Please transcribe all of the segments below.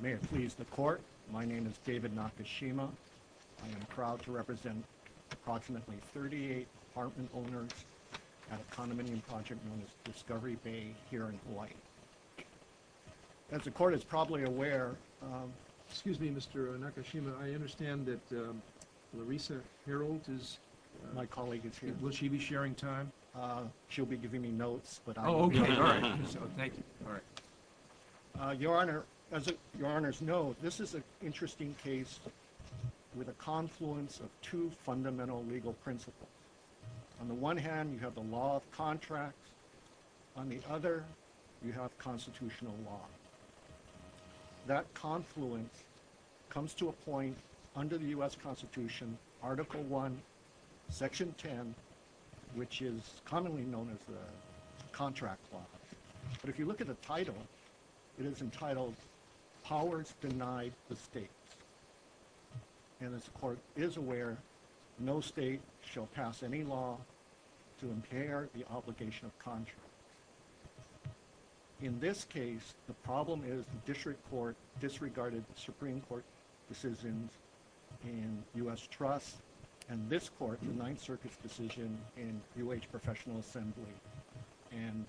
May it please the Court, my name is David Nakashima. I am proud to represent approximately 38 apartment owners at a condominium project known as Discovery Bay here in Hawaii. As the Court is probably aware, um, excuse me Mr. Nakashima, I understand that, um, Larissa Herold is, my colleague is here. Will she be sharing time? Uh, she'll be giving me notes, but I'll be... Oh, okay, alright. Thank you. Uh, Your Honor, as Your Honor's know, this is an interesting case with a confluence of two fundamental legal principles. On the one hand, you have the law of contracts. On the other, you have constitutional law. That confluence comes to a point under the U.S. Constitution, Article 1, Section 10, which is commonly known as the Contract Clause. But if you look at the title, it is entitled, Powers Denied the States. And as the Court is aware, no state shall pass any law to impair the obligation of contracts. In this case, the problem is the District Court disregarded Supreme Court decisions in U.S. Trust. And this Court, the Ninth Circuit's decision in UH Professional Assembly in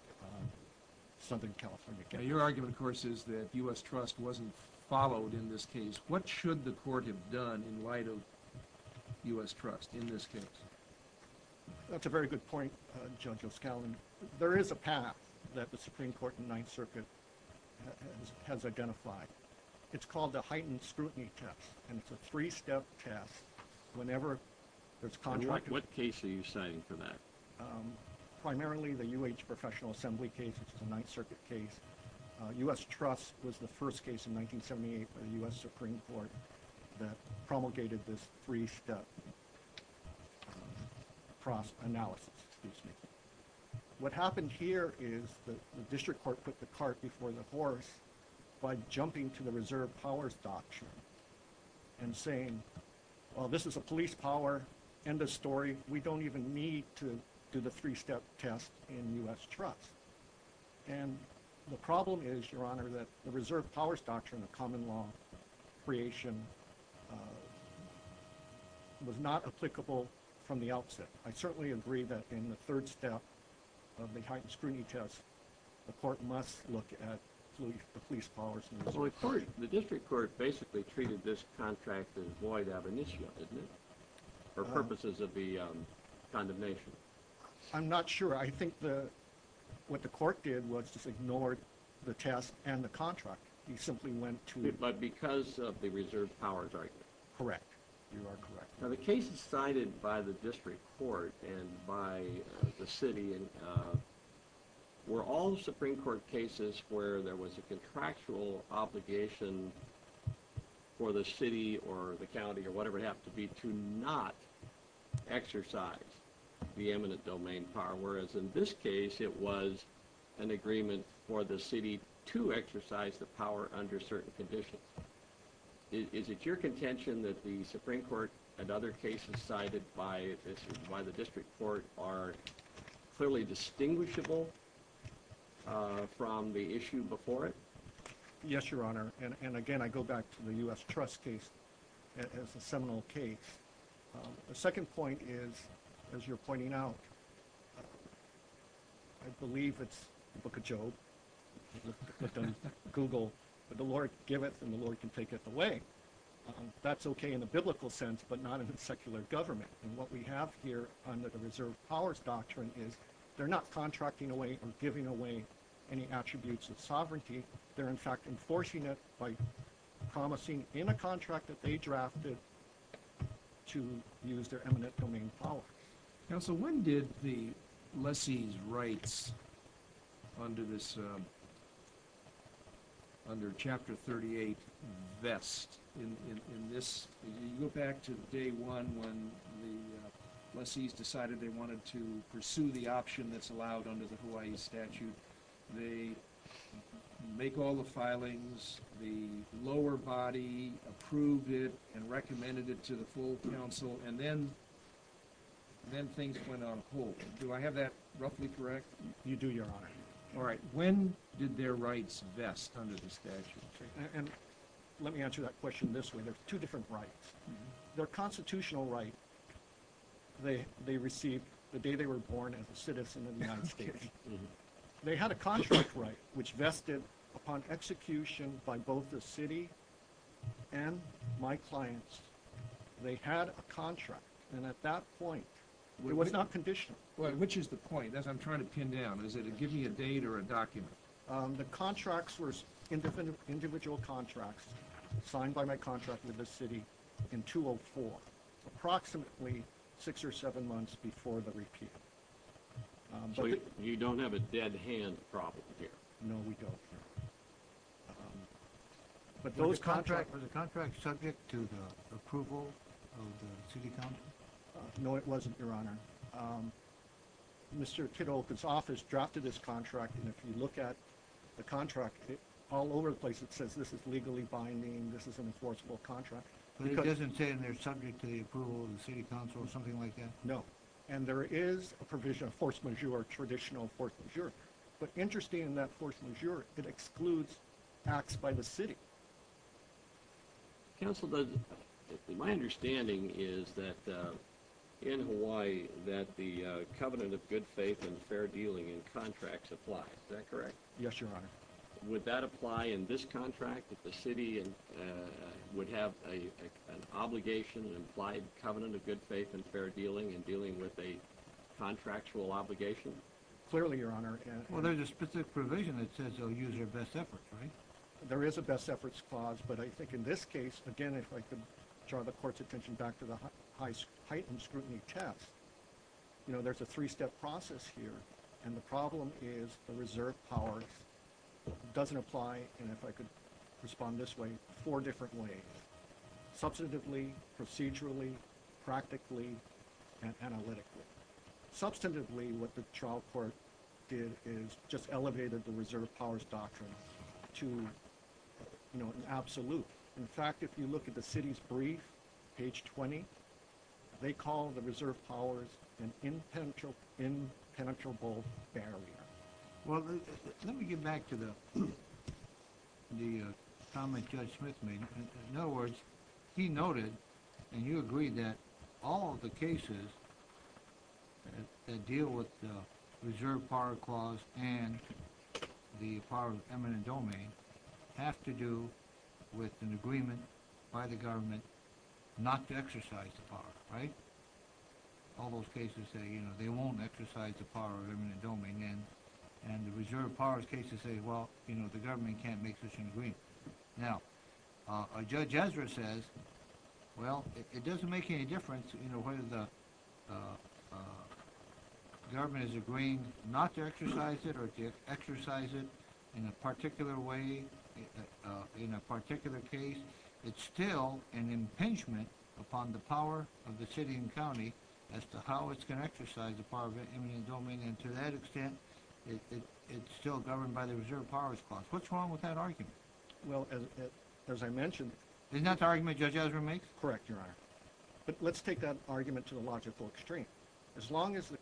Southern California. Now your argument, of course, is that U.S. Trust wasn't followed in this case. What should the Court have done in light of U.S. Trust in this case? That's a very good point, Judge O'Scallion. There is a path that the Supreme Court in the Ninth Circuit has identified. It's called the Heightened Scrutiny Test, and it's a three-step test. What case are you citing for that? Primarily the UH Professional Assembly case, which is a Ninth Circuit case. U.S. Trust was the first case in 1978 by the U.S. Supreme Court that promulgated this three-step analysis. What happened here is the District Court put the cart before the horse by jumping to the Reserve Powers Doctrine and saying, well, this is a police power, end of story. We don't even need to do the three-step test in U.S. Trust. And the problem is, Your Honor, that the Reserve Powers Doctrine, a common law creation, was not applicable from the outset. I certainly agree that in the third step of the Heightened Scrutiny Test, the Court must look at the police powers. The District Court basically treated this contract as void ab initio, didn't it, for purposes of the condemnation? I'm not sure. I think what the Court did was just ignored the test and the contract. You simply went to it. But because of the Reserve Powers Doctrine. Correct. You are correct. Now, the cases cited by the District Court and by the city were all Supreme Court cases where there was a contractual obligation for the city or the county or whatever it would have to be to not exercise the eminent domain power, whereas in this case it was an agreement for the city to exercise the power under certain conditions. Is it your contention that the Supreme Court and other cases cited by the District Court are clearly distinguishable from the issue before it? Yes, Your Honor. And again, I go back to the U.S. Trust case as a seminal case. The second point is, as you're pointing out, I believe it's the Book of Job. Google the Lord giveth and the Lord can take it away. That's okay in the biblical sense, but not in the secular government. And what we have here under the Reserve Powers Doctrine is they're not contracting away or giving away any attributes of sovereignty. They're, in fact, enforcing it by promising in a contract that they drafted to use their eminent domain power. Counsel, when did the lessee's rights under Chapter 38 vest in this? You go back to day one when the lessee's decided they wanted to pursue the option that's allowed under the Hawaii statute. They make all the filings, the lower body approved it and recommended it to the full counsel, and then things went on hold. Do I have that roughly correct? You do, Your Honor. All right. When did their rights vest under the statute? And let me answer that question this way. There's two different rights. Their constitutional right they received the day they were born as a citizen in the United States. They had a contract right which vested upon execution by both the city and my clients. They had a contract, and at that point it was not conditional. Which is the point? I'm trying to pin down. Is it to give me a date or a document? The contracts were individual contracts signed by my contract with the city in 204, approximately six or seven months before the repeal. So you don't have a dead hand problem here? No, we don't. Was the contract subject to the approval of the city council? No, it wasn't, Your Honor. Mr. Kitoka's office drafted this contract, and if you look at the contract, all over the place it says this is legally binding, this is an enforceable contract. But it doesn't say in there subject to the approval of the city council or something like that? No. And there is a provision of force majeure, traditional force majeure. But interesting in that force majeure, it excludes acts by the city. Counsel, my understanding is that in Hawaii that the covenant of good faith and fair dealing in contracts applies. Is that correct? Yes, Your Honor. Would that apply in this contract, that the city would have an obligation, an implied covenant of good faith and fair dealing in dealing with a contractual obligation? Clearly, Your Honor. Well, there's a specific provision that says they'll use their best efforts, right? There is a best efforts clause, but I think in this case, again, if I could draw the court's attention back to the heightened scrutiny test, you know, there's a three-step process here, and the problem is the reserve power doesn't apply, and if I could respond this way, four different ways. Substantively, procedurally, practically, and analytically. Substantively, what the trial court did is just elevated the reserve powers doctrine to, you know, an absolute. In fact, if you look at the city's brief, page 20, they call the reserve powers an impenetrable barrier. Well, let me get back to the comment Judge Smith made. In other words, he noted, and you agreed that all of the cases that deal with the reserve power clause and the power of eminent domain have to do with an agreement by the government not to exercise the power, right? All those cases say, you know, they won't exercise the power of eminent domain, and the reserve powers cases say, well, you know, the government can't make such an agreement. Now, Judge Ezra says, well, it doesn't make any difference, you know, whether the government has agreed not to exercise it or to exercise it in a particular way, in a particular case. It's still an impingement upon the power of the city and county as to how it's going to exercise the power of eminent domain, and to that extent, it's still governed by the reserve powers clause. What's wrong with that argument? Well, as I mentioned, Isn't that the argument Judge Ezra makes? Correct, Your Honor. But let's take that argument to the logical extreme. As long as the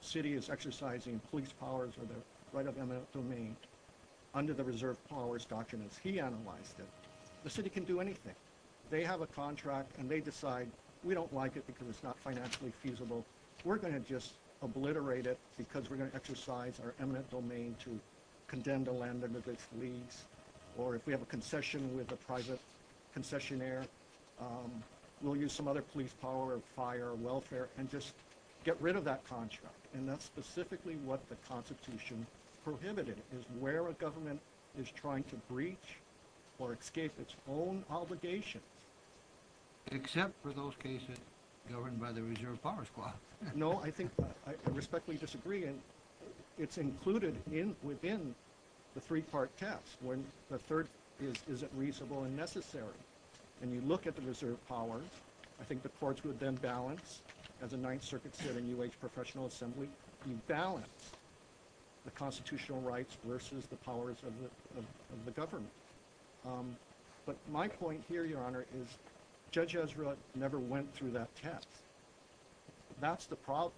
city is exercising police powers or the right of eminent domain under the reserve powers doctrine as he analyzed it, the city can do anything. They have a contract, and they decide, we don't like it because it's not financially feasible. We're going to just obliterate it because we're going to exercise our eminent domain to condemn the land under this lease, or if we have a concession with a private concessionaire, we'll use some other police power, fire, welfare, and just get rid of that contract. And that's specifically what the Constitution prohibited, is where a government is trying to breach or escape its own obligations. Except for those cases governed by the reserve powers clause. No, I respectfully disagree, and it's included within the three-part test, when the third is, is it reasonable and necessary? When you look at the reserve powers, I think the courts would then balance, as the Ninth Circuit said in UH Professional Assembly, you balance the constitutional rights versus the powers of the government. But my point here, Your Honor, is Judge Ezra never went through that test. That's the problem.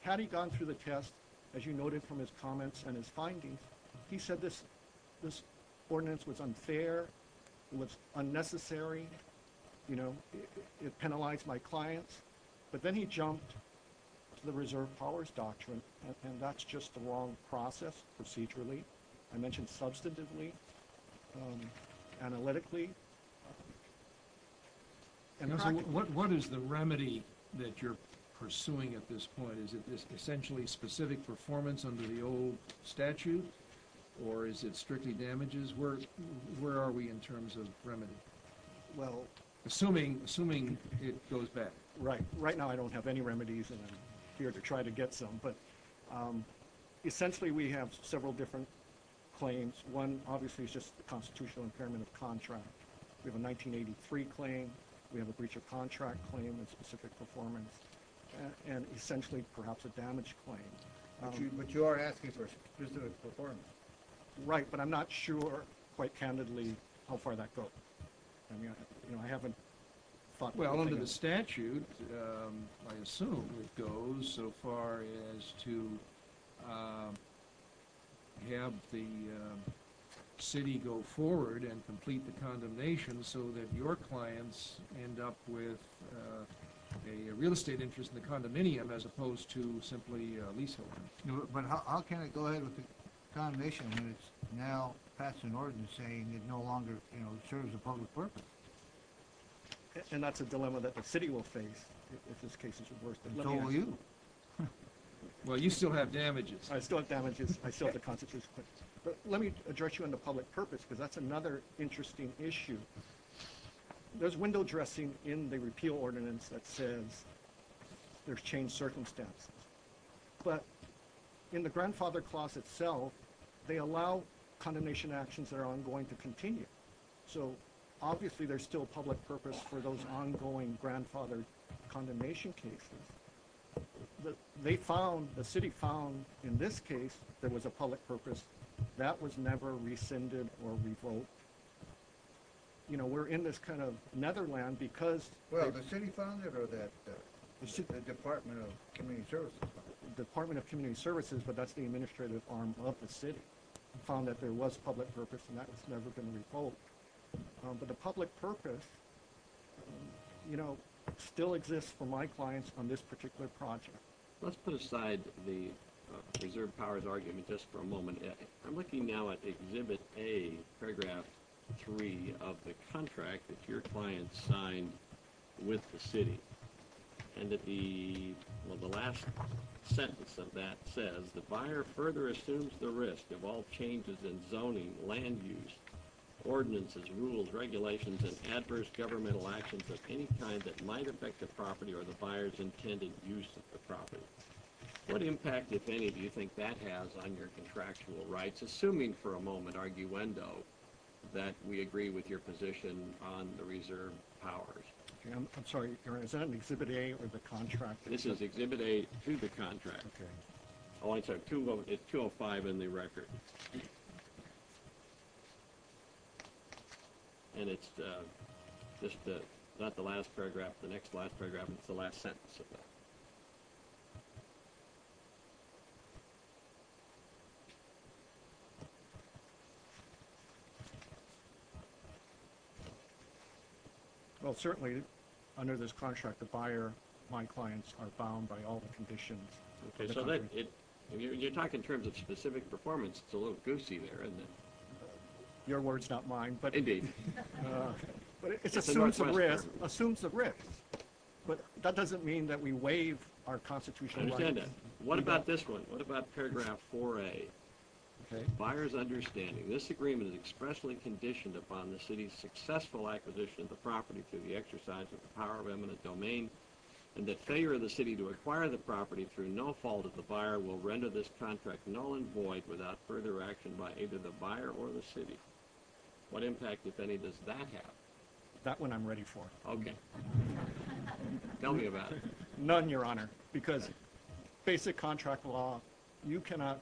Had he gone through the test, as you noted from his comments and his findings, he said this ordinance was unfair, it was unnecessary, you know, it penalized my clients. But then he jumped to the reserve powers doctrine, and that's just the wrong process procedurally. I mentioned substantively, analytically, and practically. What is the remedy that you're pursuing at this point? Is it this essentially specific performance under the old statute, or is it strictly damages? Where are we in terms of remedy, assuming it goes back? Right. Right now I don't have any remedies, and I'm here to try to get some. But essentially we have several different claims. One, obviously, is just the constitutional impairment of contract. We have a 1983 claim. We have a breach of contract claim and specific performance, and essentially perhaps a damage claim. But you are asking for specific performance. Right, but I'm not sure, quite candidly, how far that goes. I haven't thought about it. Well, under the statute, I assume it goes so far as to have the city go forward and complete the condemnation so that your clients end up with a real estate interest in the condominium as opposed to simply leaseholding. But how can it go ahead with the condemnation when it's now passed an ordinance saying it no longer serves a public purpose? And that's a dilemma that the city will face if this case is reversed. So will you. Well, you still have damages. I still have damages. I still have the constitutional claims. But let me address you on the public purpose because that's another interesting issue. There's window dressing in the repeal ordinance that says there's changed circumstances. But in the grandfather clause itself, they allow condemnation actions that are ongoing to continue. So, obviously, there's still public purpose for those ongoing grandfather condemnation cases. They found, the city found, in this case, there was a public purpose. That was never rescinded or revoked. You know, we're in this kind of netherland because. Well, the city found it or the Department of Community Services found it? Department of Community Services, but that's the administrative arm of the city, found that there was public purpose and that was never going to be revoked. But the public purpose, you know, still exists for my clients on this particular project. Let's put aside the reserve powers argument just for a moment. I'm looking now at Exhibit A, Paragraph 3 of the contract that your client signed with the city. And the last sentence of that says, the buyer further assumes the risk of all changes in zoning, land use, ordinances, rules, regulations, and adverse governmental actions of any kind that might affect the property or the buyer's intended use of the property. What impact, if any, do you think that has on your contractual rights? Assuming for a moment, arguendo, that we agree with your position on the reserve powers. I'm sorry, is that in Exhibit A or the contract? This is Exhibit A to the contract. Oh, I'm sorry, it's 205 in the record. And it's just not the last paragraph, the next last paragraph, it's the last sentence of that. Well, certainly under this contract, the buyer, my clients are bound by all the conditions. Okay, so you're talking in terms of specific performance, it's a little goosey there, isn't it? Your words, not mine. Indeed. It assumes the risk, but that doesn't mean that we waive our constitutional rights. I understand that. What about this one? What about Paragraph 4A? Okay. Buyer's understanding, this agreement is expressly conditioned upon the city's successful acquisition of the property through the exercise of the power of eminent domain, and that failure of the city to acquire the property through no fault of the buyer will render this contract null and void without further action by either the buyer or the city. What impact, if any, does that have? That one I'm ready for. Okay. Tell me about it. None, Your Honor, because basic contract law, you cannot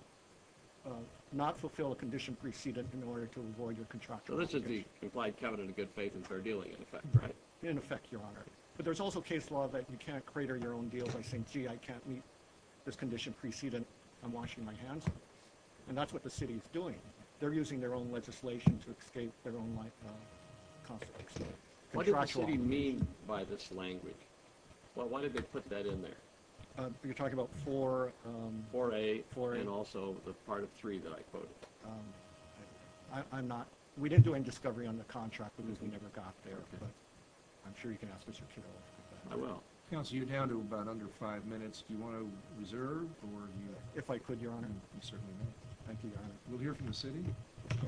not fulfill a condition preceded in order to avoid your contractual obligation. So this is the implied covenant of good faith and fair dealing, in effect, right? In effect, Your Honor. But there's also case law that you can't crater your own deal by saying, gee, I can't meet this condition preceded I'm washing my hands. And that's what the city is doing. They're using their own legislation to escape their own life consequences. What did the city mean by this language? Why did they put that in there? You're talking about 4A? 4A and also the part of 3 that I quoted. I'm notówe didn't do any discovery on the contract because we never got there. But I'm sure you can ask Mr. Kiraoka. I will. Counsel, you're down to about under five minutes. Do you want to reserve oró If I could, Your Honor. You certainly may. Thank you, Your Honor. We'll hear from the city.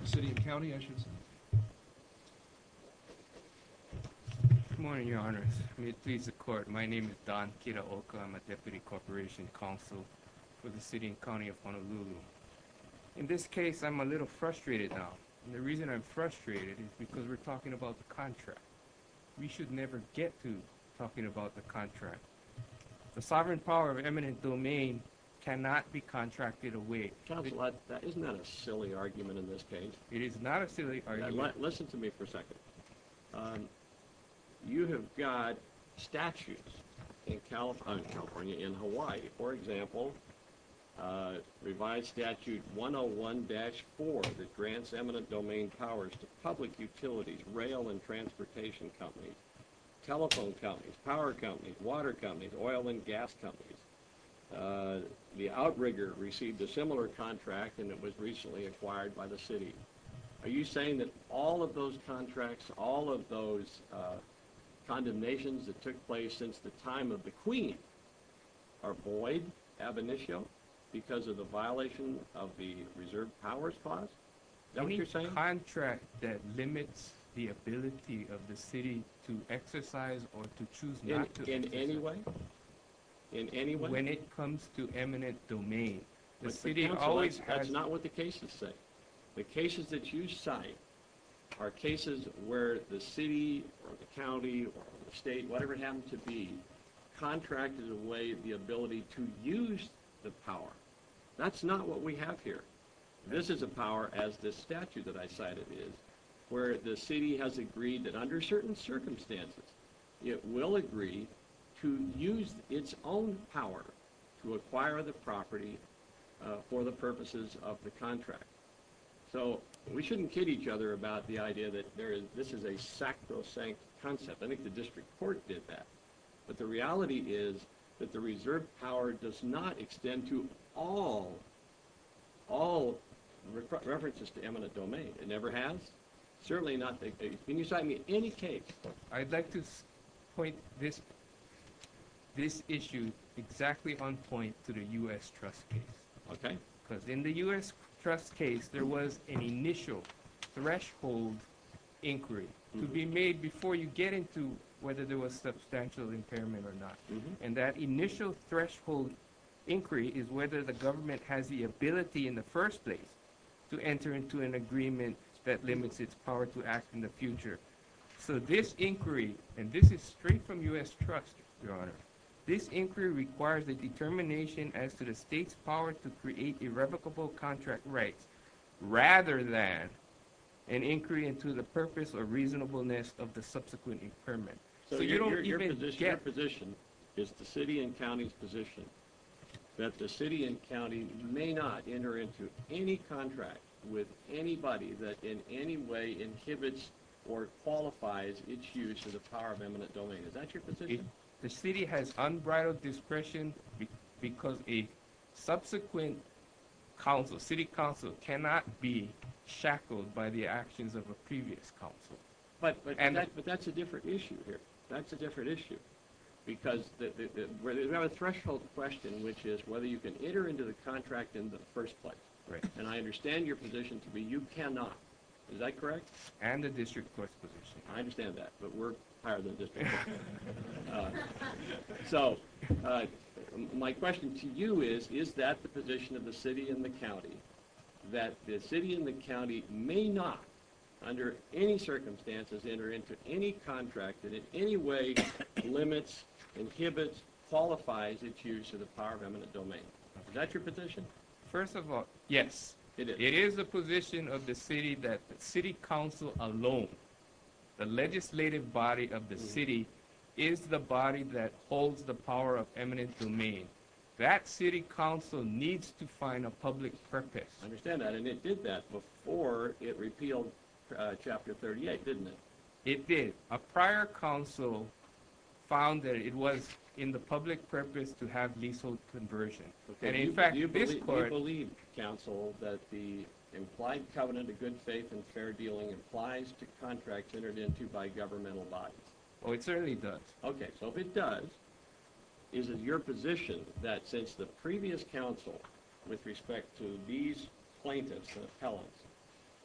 The city and county, I should say. Good morning, Your Honors. May it please the court, my name is Don Kiraoka. I'm a deputy corporation counsel for the city and county of Honolulu. In this case, I'm a little frustrated now. And the reason I'm frustrated is because we're talking about the contract. We should never get to talking about the contract. The sovereign power of eminent domain cannot be contracted away. Counsel, isn't that a silly argument in this case? It is not a silly argument. Listen to me for a second. You have got statutes in California, in Hawaii, for example, revised statute 101-4 that grants eminent domain powers to public utilities, rail and transportation companies, telephone companies, power companies, water companies, oil and gas companies. The outrigger received a similar contract and it was recently acquired by the city. Are you saying that all of those contracts, all of those condemnations that took place since the time of the queen are void, ab initio, because of the violation of the reserve powers clause? Is that what you're saying? A contract that limits the ability of the city to exercise or to choose not to exercise. In any way? When it comes to eminent domain, the city always has... Counsel, that's not what the cases say. The cases that you cite are cases where the city or the county or the state, whatever it happens to be, contracted away the ability to use the power. That's not what we have here. This is a power, as this statute that I cited is, where the city has agreed that under certain circumstances, it will agree to use its own power to acquire the property for the purposes of the contract. So we shouldn't kid each other about the idea that this is a sacrosanct concept. I think the district court did that. But the reality is that the reserve power does not extend to all references to eminent domain. It never has. Certainly not. Can you cite me any case? I'd like to point this issue exactly on point to the U.S. trust case. Okay. Because in the U.S. trust case, there was an initial threshold inquiry to be made before you get into whether there was substantial impairment or not. And that initial threshold inquiry is whether the government has the ability in the first place to enter into an agreement that limits its power to act in the future. So this inquiry, and this is straight from U.S. trust, Your Honor, this inquiry requires a determination as to the state's power to create irrevocable contract rights rather than an inquiry into the purpose or reasonableness of the subsequent impairment. So your position is the city and county's position that the city and county may not enter into any contract with anybody that in any way inhibits or qualifies its use of the power of eminent domain. Is that your position? The city has unbridled discretion because a subsequent council, city council, cannot be shackled by the actions of a previous council. But that's a different issue here. That's a different issue because we have a threshold question, which is whether you can enter into the contract in the first place. Right. And I understand your position to be you cannot. Is that correct? And the district court's position. I understand that, but we're higher than the district court. So my question to you is, is that the position of the city and the county, that the city and the county may not under any circumstances enter into any contract that in any way limits, inhibits, qualifies its use of the power of eminent domain. Is that your position? First of all, yes. It is. It is the position of the city that city council alone, the legislative body of the city is the body that holds the power of eminent domain. That city council needs to find a public purpose. I understand that, and it did that before it repealed Chapter 38, didn't it? It did. A prior council found that it was in the public purpose to have leasehold conversion. Do you believe, counsel, that the implied covenant of good faith and fair dealing applies to contracts entered into by governmental bodies? Oh, it certainly does. Okay. So if it does, is it your position that since the previous council, with respect to these plaintiffs and appellants,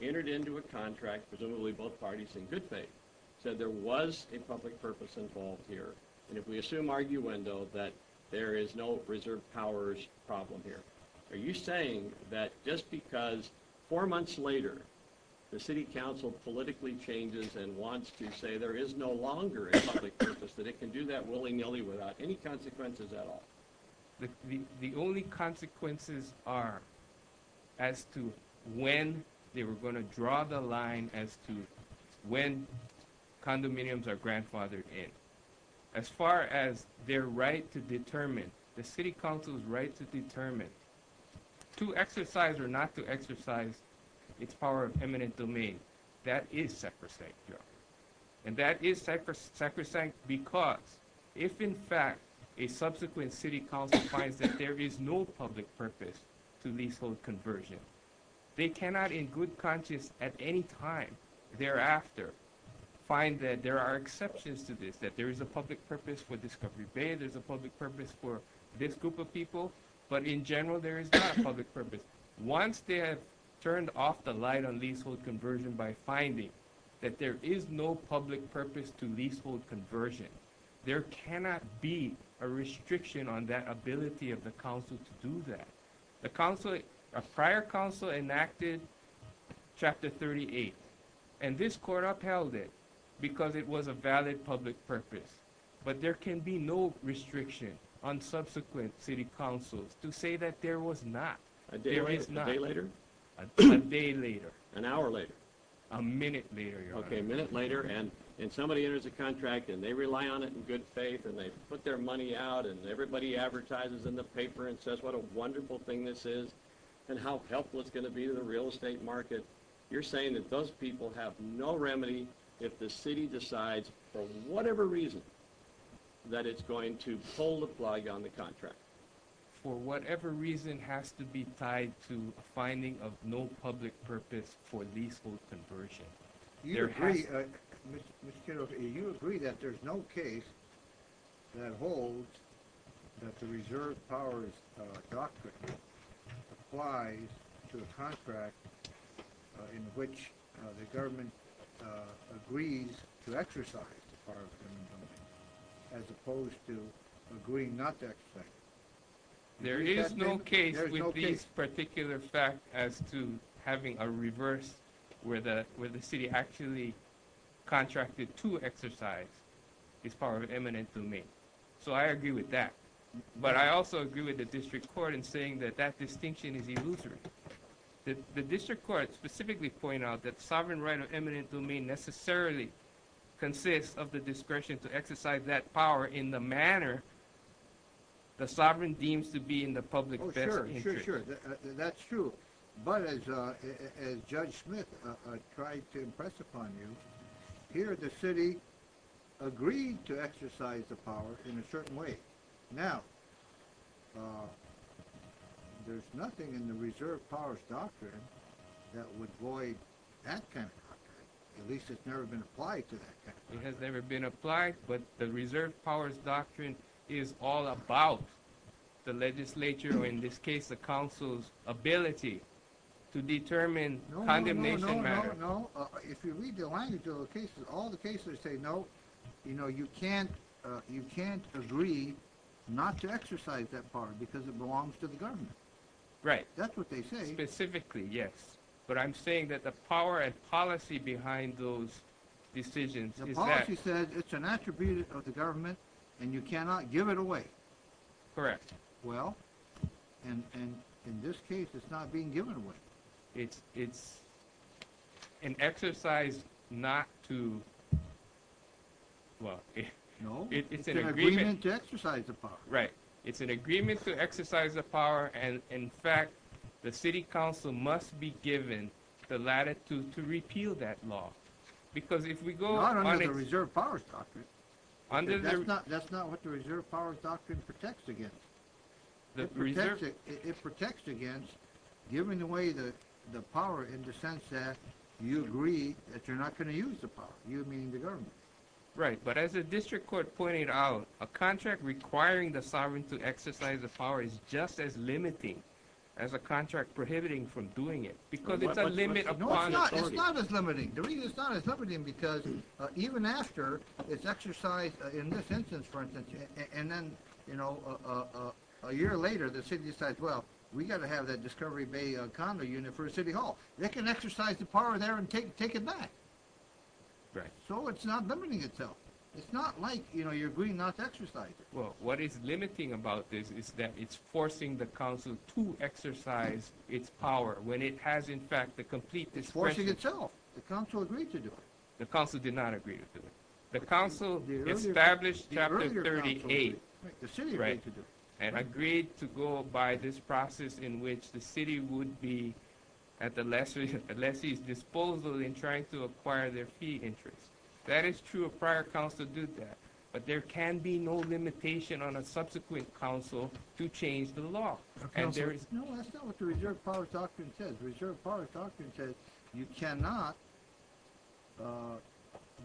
entered into a contract, presumably both parties in good faith, said there was a public purpose involved here, and if we assume arguendo that there is no reserved powers problem here, are you saying that just because four months later the city council politically changes and wants to say there is no longer a public purpose, that it can do that willy-nilly without any consequences at all? The only consequences are as to when they were going to draw the line as to when condominiums are grandfathered in. As far as their right to determine, the city council's right to determine to exercise or not to exercise its power of eminent domain, that is sacrosanct here. And that is sacrosanct because if, in fact, a subsequent city council finds that there is no public purpose to leasehold conversion, they cannot in good conscience at any time thereafter find that there are exceptions to this, that there is a public purpose for Discovery Bay, there is a public purpose for this group of people, but in general there is not a public purpose. Once they have turned off the light on leasehold conversion by finding that there is no public purpose to leasehold conversion, there cannot be a restriction on that ability of the council to do that. A prior council enacted Chapter 38, and this court upheld it because it was a valid public purpose. But there can be no restriction on subsequent city councils to say that there was not. A day later? A day later. An hour later? A minute later, Your Honor. Okay, a minute later, and somebody enters a contract, and they rely on it in good faith, and they put their money out, and everybody advertises in the paper and says what a wonderful thing this is and how helpful it's going to be to the real estate market. You're saying that those people have no remedy if the city decides for whatever reason that it's going to pull the plug on the contract. For whatever reason has to be tied to a finding of no public purpose for leasehold conversion. You agree that there's no case that holds that the reserve powers doctrine applies to a contract in which the government agrees to exercise the power of the government as opposed to agreeing not to exercise it. There is no case with this particular fact as to having a reverse where the city actually contracted to exercise its power of eminent domain. So I agree with that. But I also agree with the district court in saying that that distinction is illusory. The district court specifically pointed out that sovereign right of eminent domain necessarily consists of the discretion to exercise that power in the manner the sovereign deems to be in the public best interest. Oh sure, sure, sure. That's true. But as Judge Smith tried to impress upon you, here the city agreed to exercise the power in a certain way. Now, there's nothing in the reserve powers doctrine that would void that kind of doctrine. It has never been applied. But the reserve powers doctrine is all about the legislature, or in this case the council's ability to determine condemnation matters. No, no, no, no, no. If you read the language of the cases, all the cases say no. You know, you can't agree not to exercise that power because it belongs to the government. Right. That's what they say. Specifically, yes. But I'm saying that the power and policy behind those decisions is that— The policy says it's an attribute of the government and you cannot give it away. Correct. Well, and in this case it's not being given away. It's an exercise not to—well, it's an agreement— No, it's an agreement to exercise the power. Right. It's an agreement to exercise the power, and, in fact, the city council must be given the latitude to repeal that law. Because if we go— Not under the reserve powers doctrine. Under the— That's not what the reserve powers doctrine protects against. The preserve— It protects against giving away the power in the sense that you agree that you're not going to use the power. You, meaning the government. Right. But as the district court pointed out, a contract requiring the sovereign to exercise the power is just as limiting as a contract prohibiting from doing it. Because it's a limit upon authority. No, it's not. It's not as limiting. The reason it's not as limiting because even after it's exercised in this instance, for instance, and then, you know, a year later the city decides, well, we've got to have that Discovery Bay condo unit for a city hall. They can exercise the power there and take it back. Right. So it's not limiting itself. It's not like, you know, you're agreeing not to exercise it. Well, what is limiting about this is that it's forcing the council to exercise its power when it has, in fact, the complete discretion— It's forcing itself. The council agreed to do it. The council did not agree to do it. The council established Chapter 38. The city agreed to do it. That is true. A prior council did that. But there can be no limitation on a subsequent council to change the law. And there is— No, that's not what the reserve power doctrine says. Reserve power doctrine says you cannot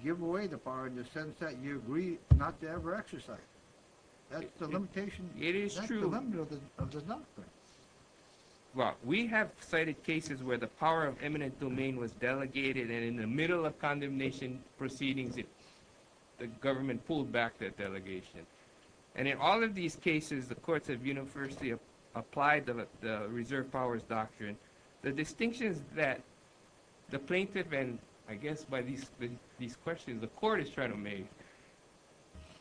give away the power in the sense that you agree not to ever exercise it. That's the limitation. It is true. That's the limit of the doctrine. Well, we have cited cases where the power of eminent domain was delegated, and in the middle of condemnation proceedings, the government pulled back that delegation. And in all of these cases, the courts have universally applied the reserve powers doctrine. The distinctions that the plaintiff, and I guess by these questions the court is trying to make,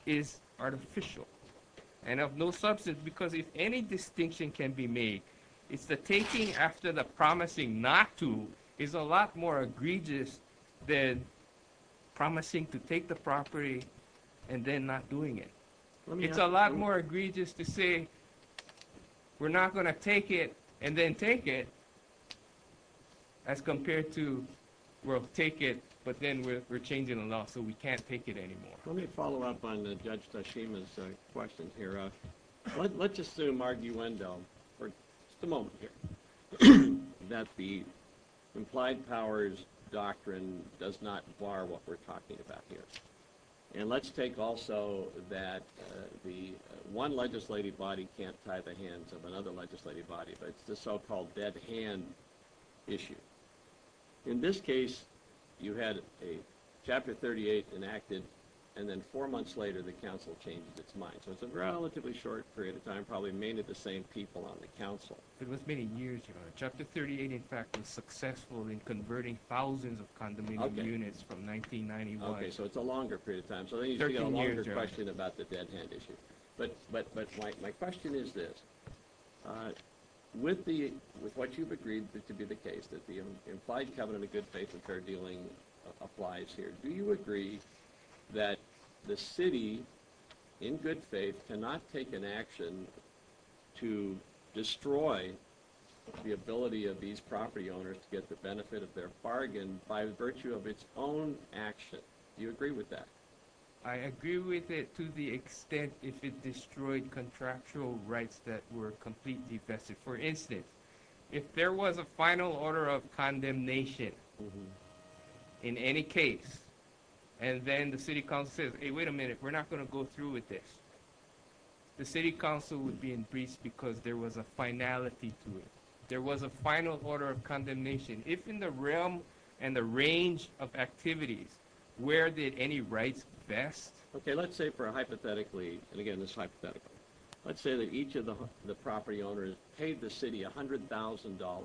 is artificial and of no substance because if any distinction can be made, it's the taking after the promising not to is a lot more egregious than promising to take the property and then not doing it. It's a lot more egregious to say we're not going to take it and then take it as compared to we'll take it but then we're changing the law so we can't take it anymore. Let me follow up on Judge Tashima's question here. Let's assume arguendo for just a moment here that the implied powers doctrine does not bar what we're talking about here. And let's take also that the one legislative body can't tie the hands of another legislative body, but it's the so-called dead hand issue. In this case, you had a chapter 38 enacted and then four months later the council changes its mind. So it's a relatively short period of time, probably mainly the same people on the council. It was many years ago. Chapter 38, in fact, was successful in converting thousands of condominium units from 1991. Okay, so it's a longer period of time. So then you've got a longer question about the dead hand issue. But my question is this. With what you've agreed to be the case, that the implied covenant of good faith and fair dealing applies here, do you agree that the city, in good faith, cannot take an action to destroy the ability of these property owners to get the benefit of their bargain by virtue of its own action? Do you agree with that? I agree with it to the extent if it destroyed contractual rights that were completely vested. For instance, if there was a final order of condemnation in any case, and then the city council says, hey, wait a minute, we're not going to go through with this. The city council would be embraced because there was a finality to it. There was a final order of condemnation. If in the realm and the range of activities, where did any rights vest? Okay, let's say for a hypothetical, and again, this is hypothetical. Let's say that each of the property owners paid the city $100,000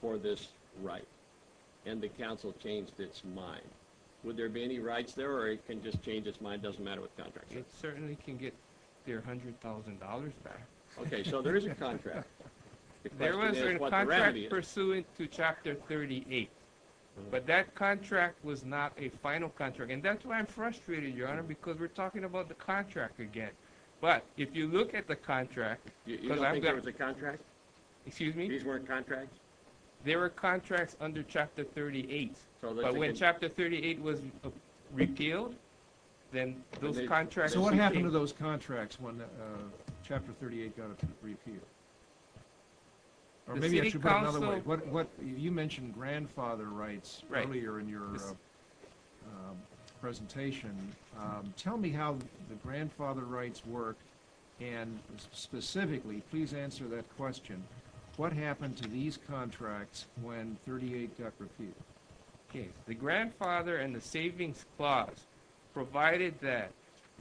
for this right, and the council changed its mind. Would there be any rights there, or it can just change its mind, doesn't matter what contract? It certainly can get their $100,000 back. Okay, so there is a contract. There was a contract pursuant to Chapter 38, but that contract was not a final contract. And that's why I'm frustrated, Your Honor, because we're talking about the contract again. But if you look at the contract… You don't think there was a contract? Excuse me? These weren't contracts? There were contracts under Chapter 38, but when Chapter 38 was repealed, then those contracts… So what happened to those contracts when Chapter 38 got repealed? The city council… You mentioned grandfather rights earlier in your presentation. Tell me how the grandfather rights work, and specifically, please answer that question. What happened to these contracts when 38 got repealed? The grandfather and the savings clause provided that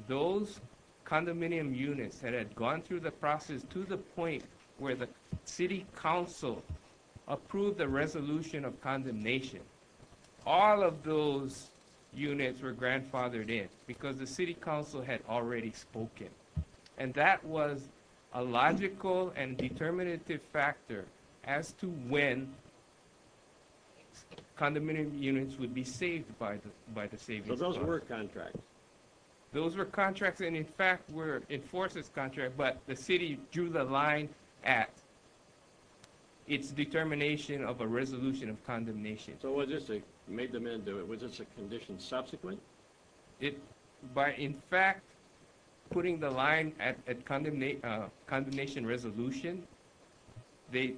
those condominium units that had gone through the process to the point where the city council approved the resolution of condemnation, all of those units were grandfathered in because the city council had already spoken. And that was a logical and determinative factor as to when condominium units would be saved by the savings clause. So those were contracts? Those were contracts, and in fact were enforcers' contracts, but the city drew the line at its determination of a resolution of condemnation. So was this a condition subsequent? By in fact putting the line at condemnation resolution, they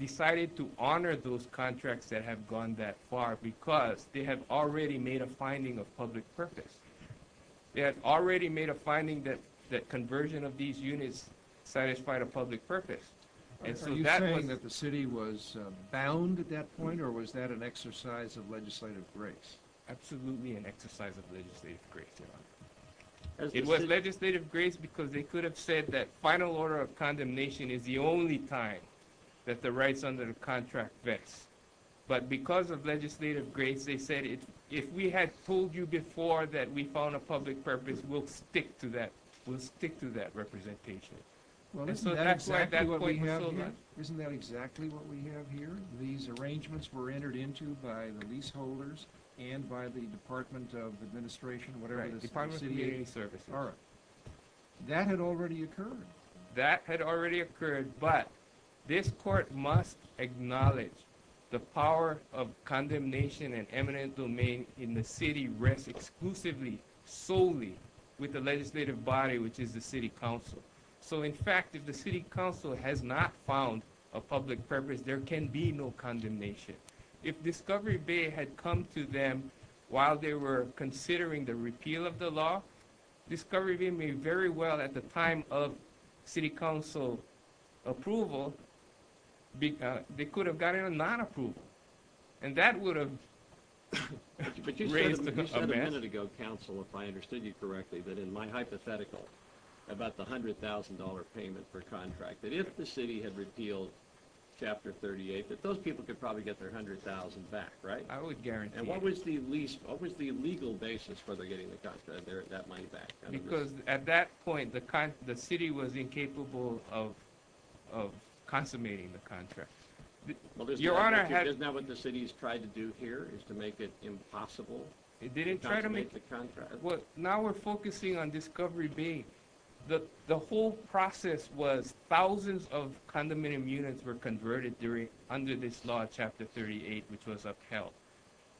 decided to honor those contracts that had gone that far because they had already made a finding of public purpose. They had already made a finding that conversion of these units satisfied a public purpose. Are you saying that the city was bound at that point, or was that an exercise of legislative grace? It was absolutely an exercise of legislative grace. It was legislative grace because they could have said that final order of condemnation is the only time that the rights under the contract vets. But because of legislative grace, they said if we had told you before that we found a public purpose, we'll stick to that representation. Isn't that exactly what we have here? These arrangements were entered into by the leaseholders and by the Department of Administration, whatever the city services are. That had already occurred. That had already occurred, but this court must acknowledge the power of condemnation and eminent domain in the city rests exclusively, solely with the legislative body, which is the city council. In fact, if the city council has not found a public purpose, there can be no condemnation. If Discovery Bay had come to them while they were considering the repeal of the law, Discovery Bay may very well, at the time of city council approval, they could have gotten a non-approval. That would have raised a mess. If I understood you correctly, that in my hypothetical, about the $100,000 payment for contract, that if the city had repealed Chapter 38, that those people could probably get their $100,000 back, right? I would guarantee it. And what was the legal basis for their getting that money back? Because at that point, the city was incapable of consummating the contract. Isn't that what the city has tried to do here, is to make it impossible? Well, now we're focusing on Discovery Bay. The whole process was thousands of condominium units were converted under this law, Chapter 38, which was upheld.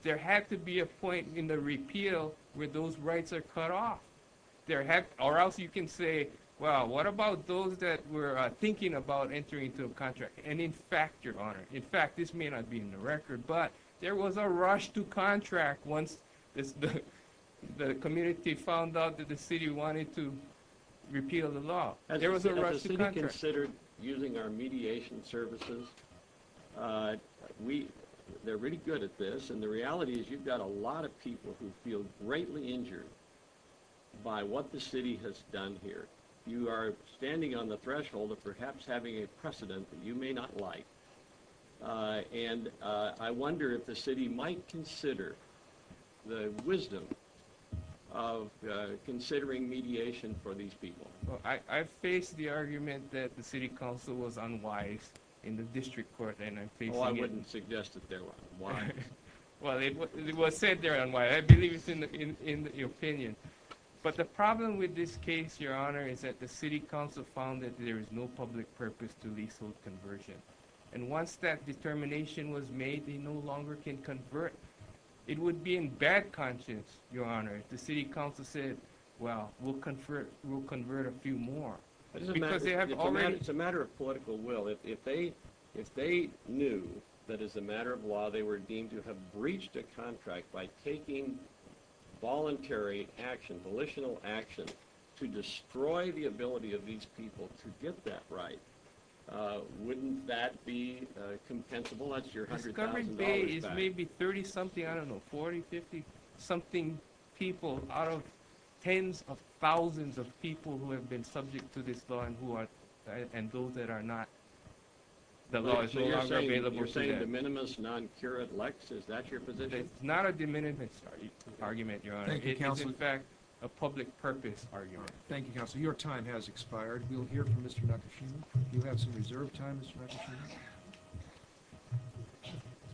There had to be a point in the repeal where those rights are cut off. Or else you can say, well, what about those that were thinking about entering into a contract? And in fact, Your Honor, in fact this may not be in the record, but there was a rush to contract once the community found out that the city wanted to repeal the law. There was a rush to contract. As a city considered using our mediation services, they're really good at this. And the reality is you've got a lot of people who feel greatly injured by what the city has done here. You are standing on the threshold of perhaps having a precedent that you may not like. And I wonder if the city might consider the wisdom of considering mediation for these people. I face the argument that the city council was unwise in the district court. Oh, I wouldn't suggest that they're unwise. Well, it was said they're unwise. I believe it's in the opinion. But the problem with this case, Your Honor, is that the city council found that there is no public purpose to leasehold conversion. And once that determination was made, they no longer can convert. It would be in bad conscience, Your Honor, if the city council said, well, we'll convert a few more. It's a matter of political will. If they knew that as a matter of law they were deemed to have breached a contract by taking voluntary action, volitional action to destroy the ability of these people to get that right, wouldn't that be compensable? That's your $100,000 back. It's maybe 30-something, I don't know, 40, 50-something people out of tens of thousands of people who have been subject to this law and those that are not, the law is no longer available to them. So you're saying de minimis, non curat lex? Is that your position? It's not a de minimis argument, Your Honor. It is, in fact, a public purpose argument. Thank you, Counselor. Your time has expired. We'll hear from Mr. Nakashima. You have some reserved time, Mr. Nakashima.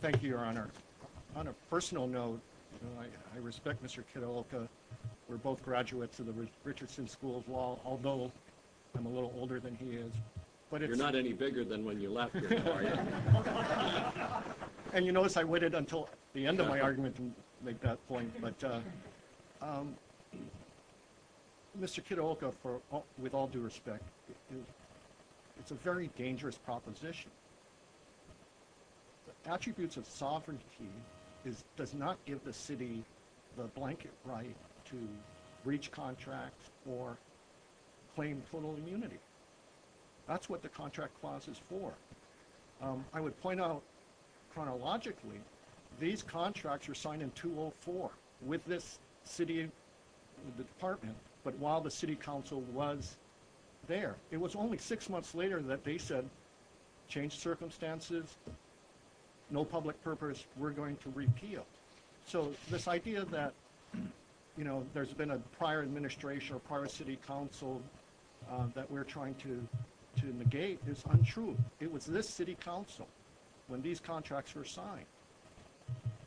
Thank you, Your Honor. On a personal note, I respect Mr. Kitaoka. We're both graduates of the Richardson School of Law, although I'm a little older than he is. You're not any bigger than when you left here, are you? And you notice I waited until the end of my argument to make that point. But Mr. Kitaoka, with all due respect, it's a very dangerous proposition. Attributes of sovereignty does not give the city the blanket right to breach contracts or claim total immunity. That's what the contract clause is for. I would point out, chronologically, these contracts were signed in 2004 with this city, the department, but while the city council was there. It was only six months later that they said, change circumstances, no public purpose, we're going to repeal. So this idea that, you know, there's been a prior administration or prior city council that we're trying to negate is untrue. It was this city council when these contracts were signed.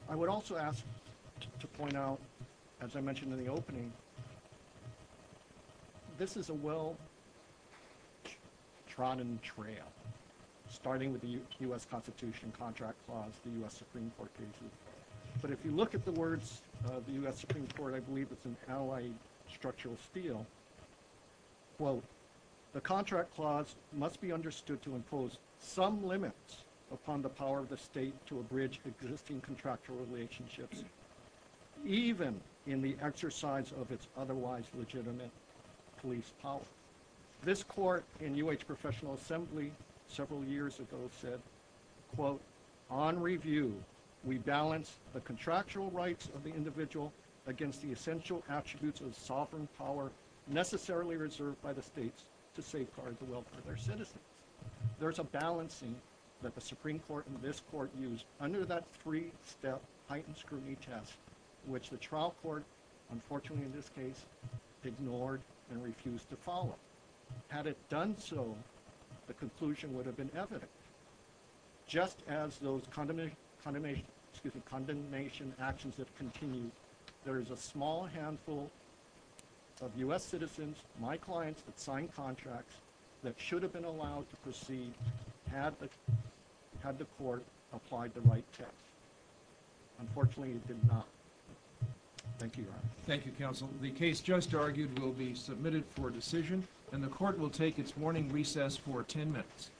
I would also ask to point out, as I mentioned in the opening, this is a well-trodden trail, starting with the U.S. Constitution contract clause the U.S. Supreme Court gave you. But if you look at the words of the U.S. Supreme Court, I believe it's an allied structural steel, quote, the contract clause must be understood to impose some limits upon the power of the state to abridge existing contractual relationships, even in the exercise of its otherwise legitimate police power. This court in UH Professional Assembly several years ago said, quote, on review, we balance the contractual rights of the individual against the essential attributes of sovereign power necessarily reserved by the states to safeguard the welfare of their citizens. There's a balancing that the Supreme Court and this court used under that three-step heightened scrutiny test, which the trial court, unfortunately in this case, ignored and refused to follow. Had it done so, the conclusion would have been evident. Just as those condemnation actions have continued, there is a small handful of U.S. citizens, my clients, that signed contracts that should have been allowed to proceed had the court applied the right test. Unfortunately, it did not. Thank you, Your Honor. Thank you, Counsel. The case just argued will be submitted for decision, and the court will take its warning recess for 10 minutes.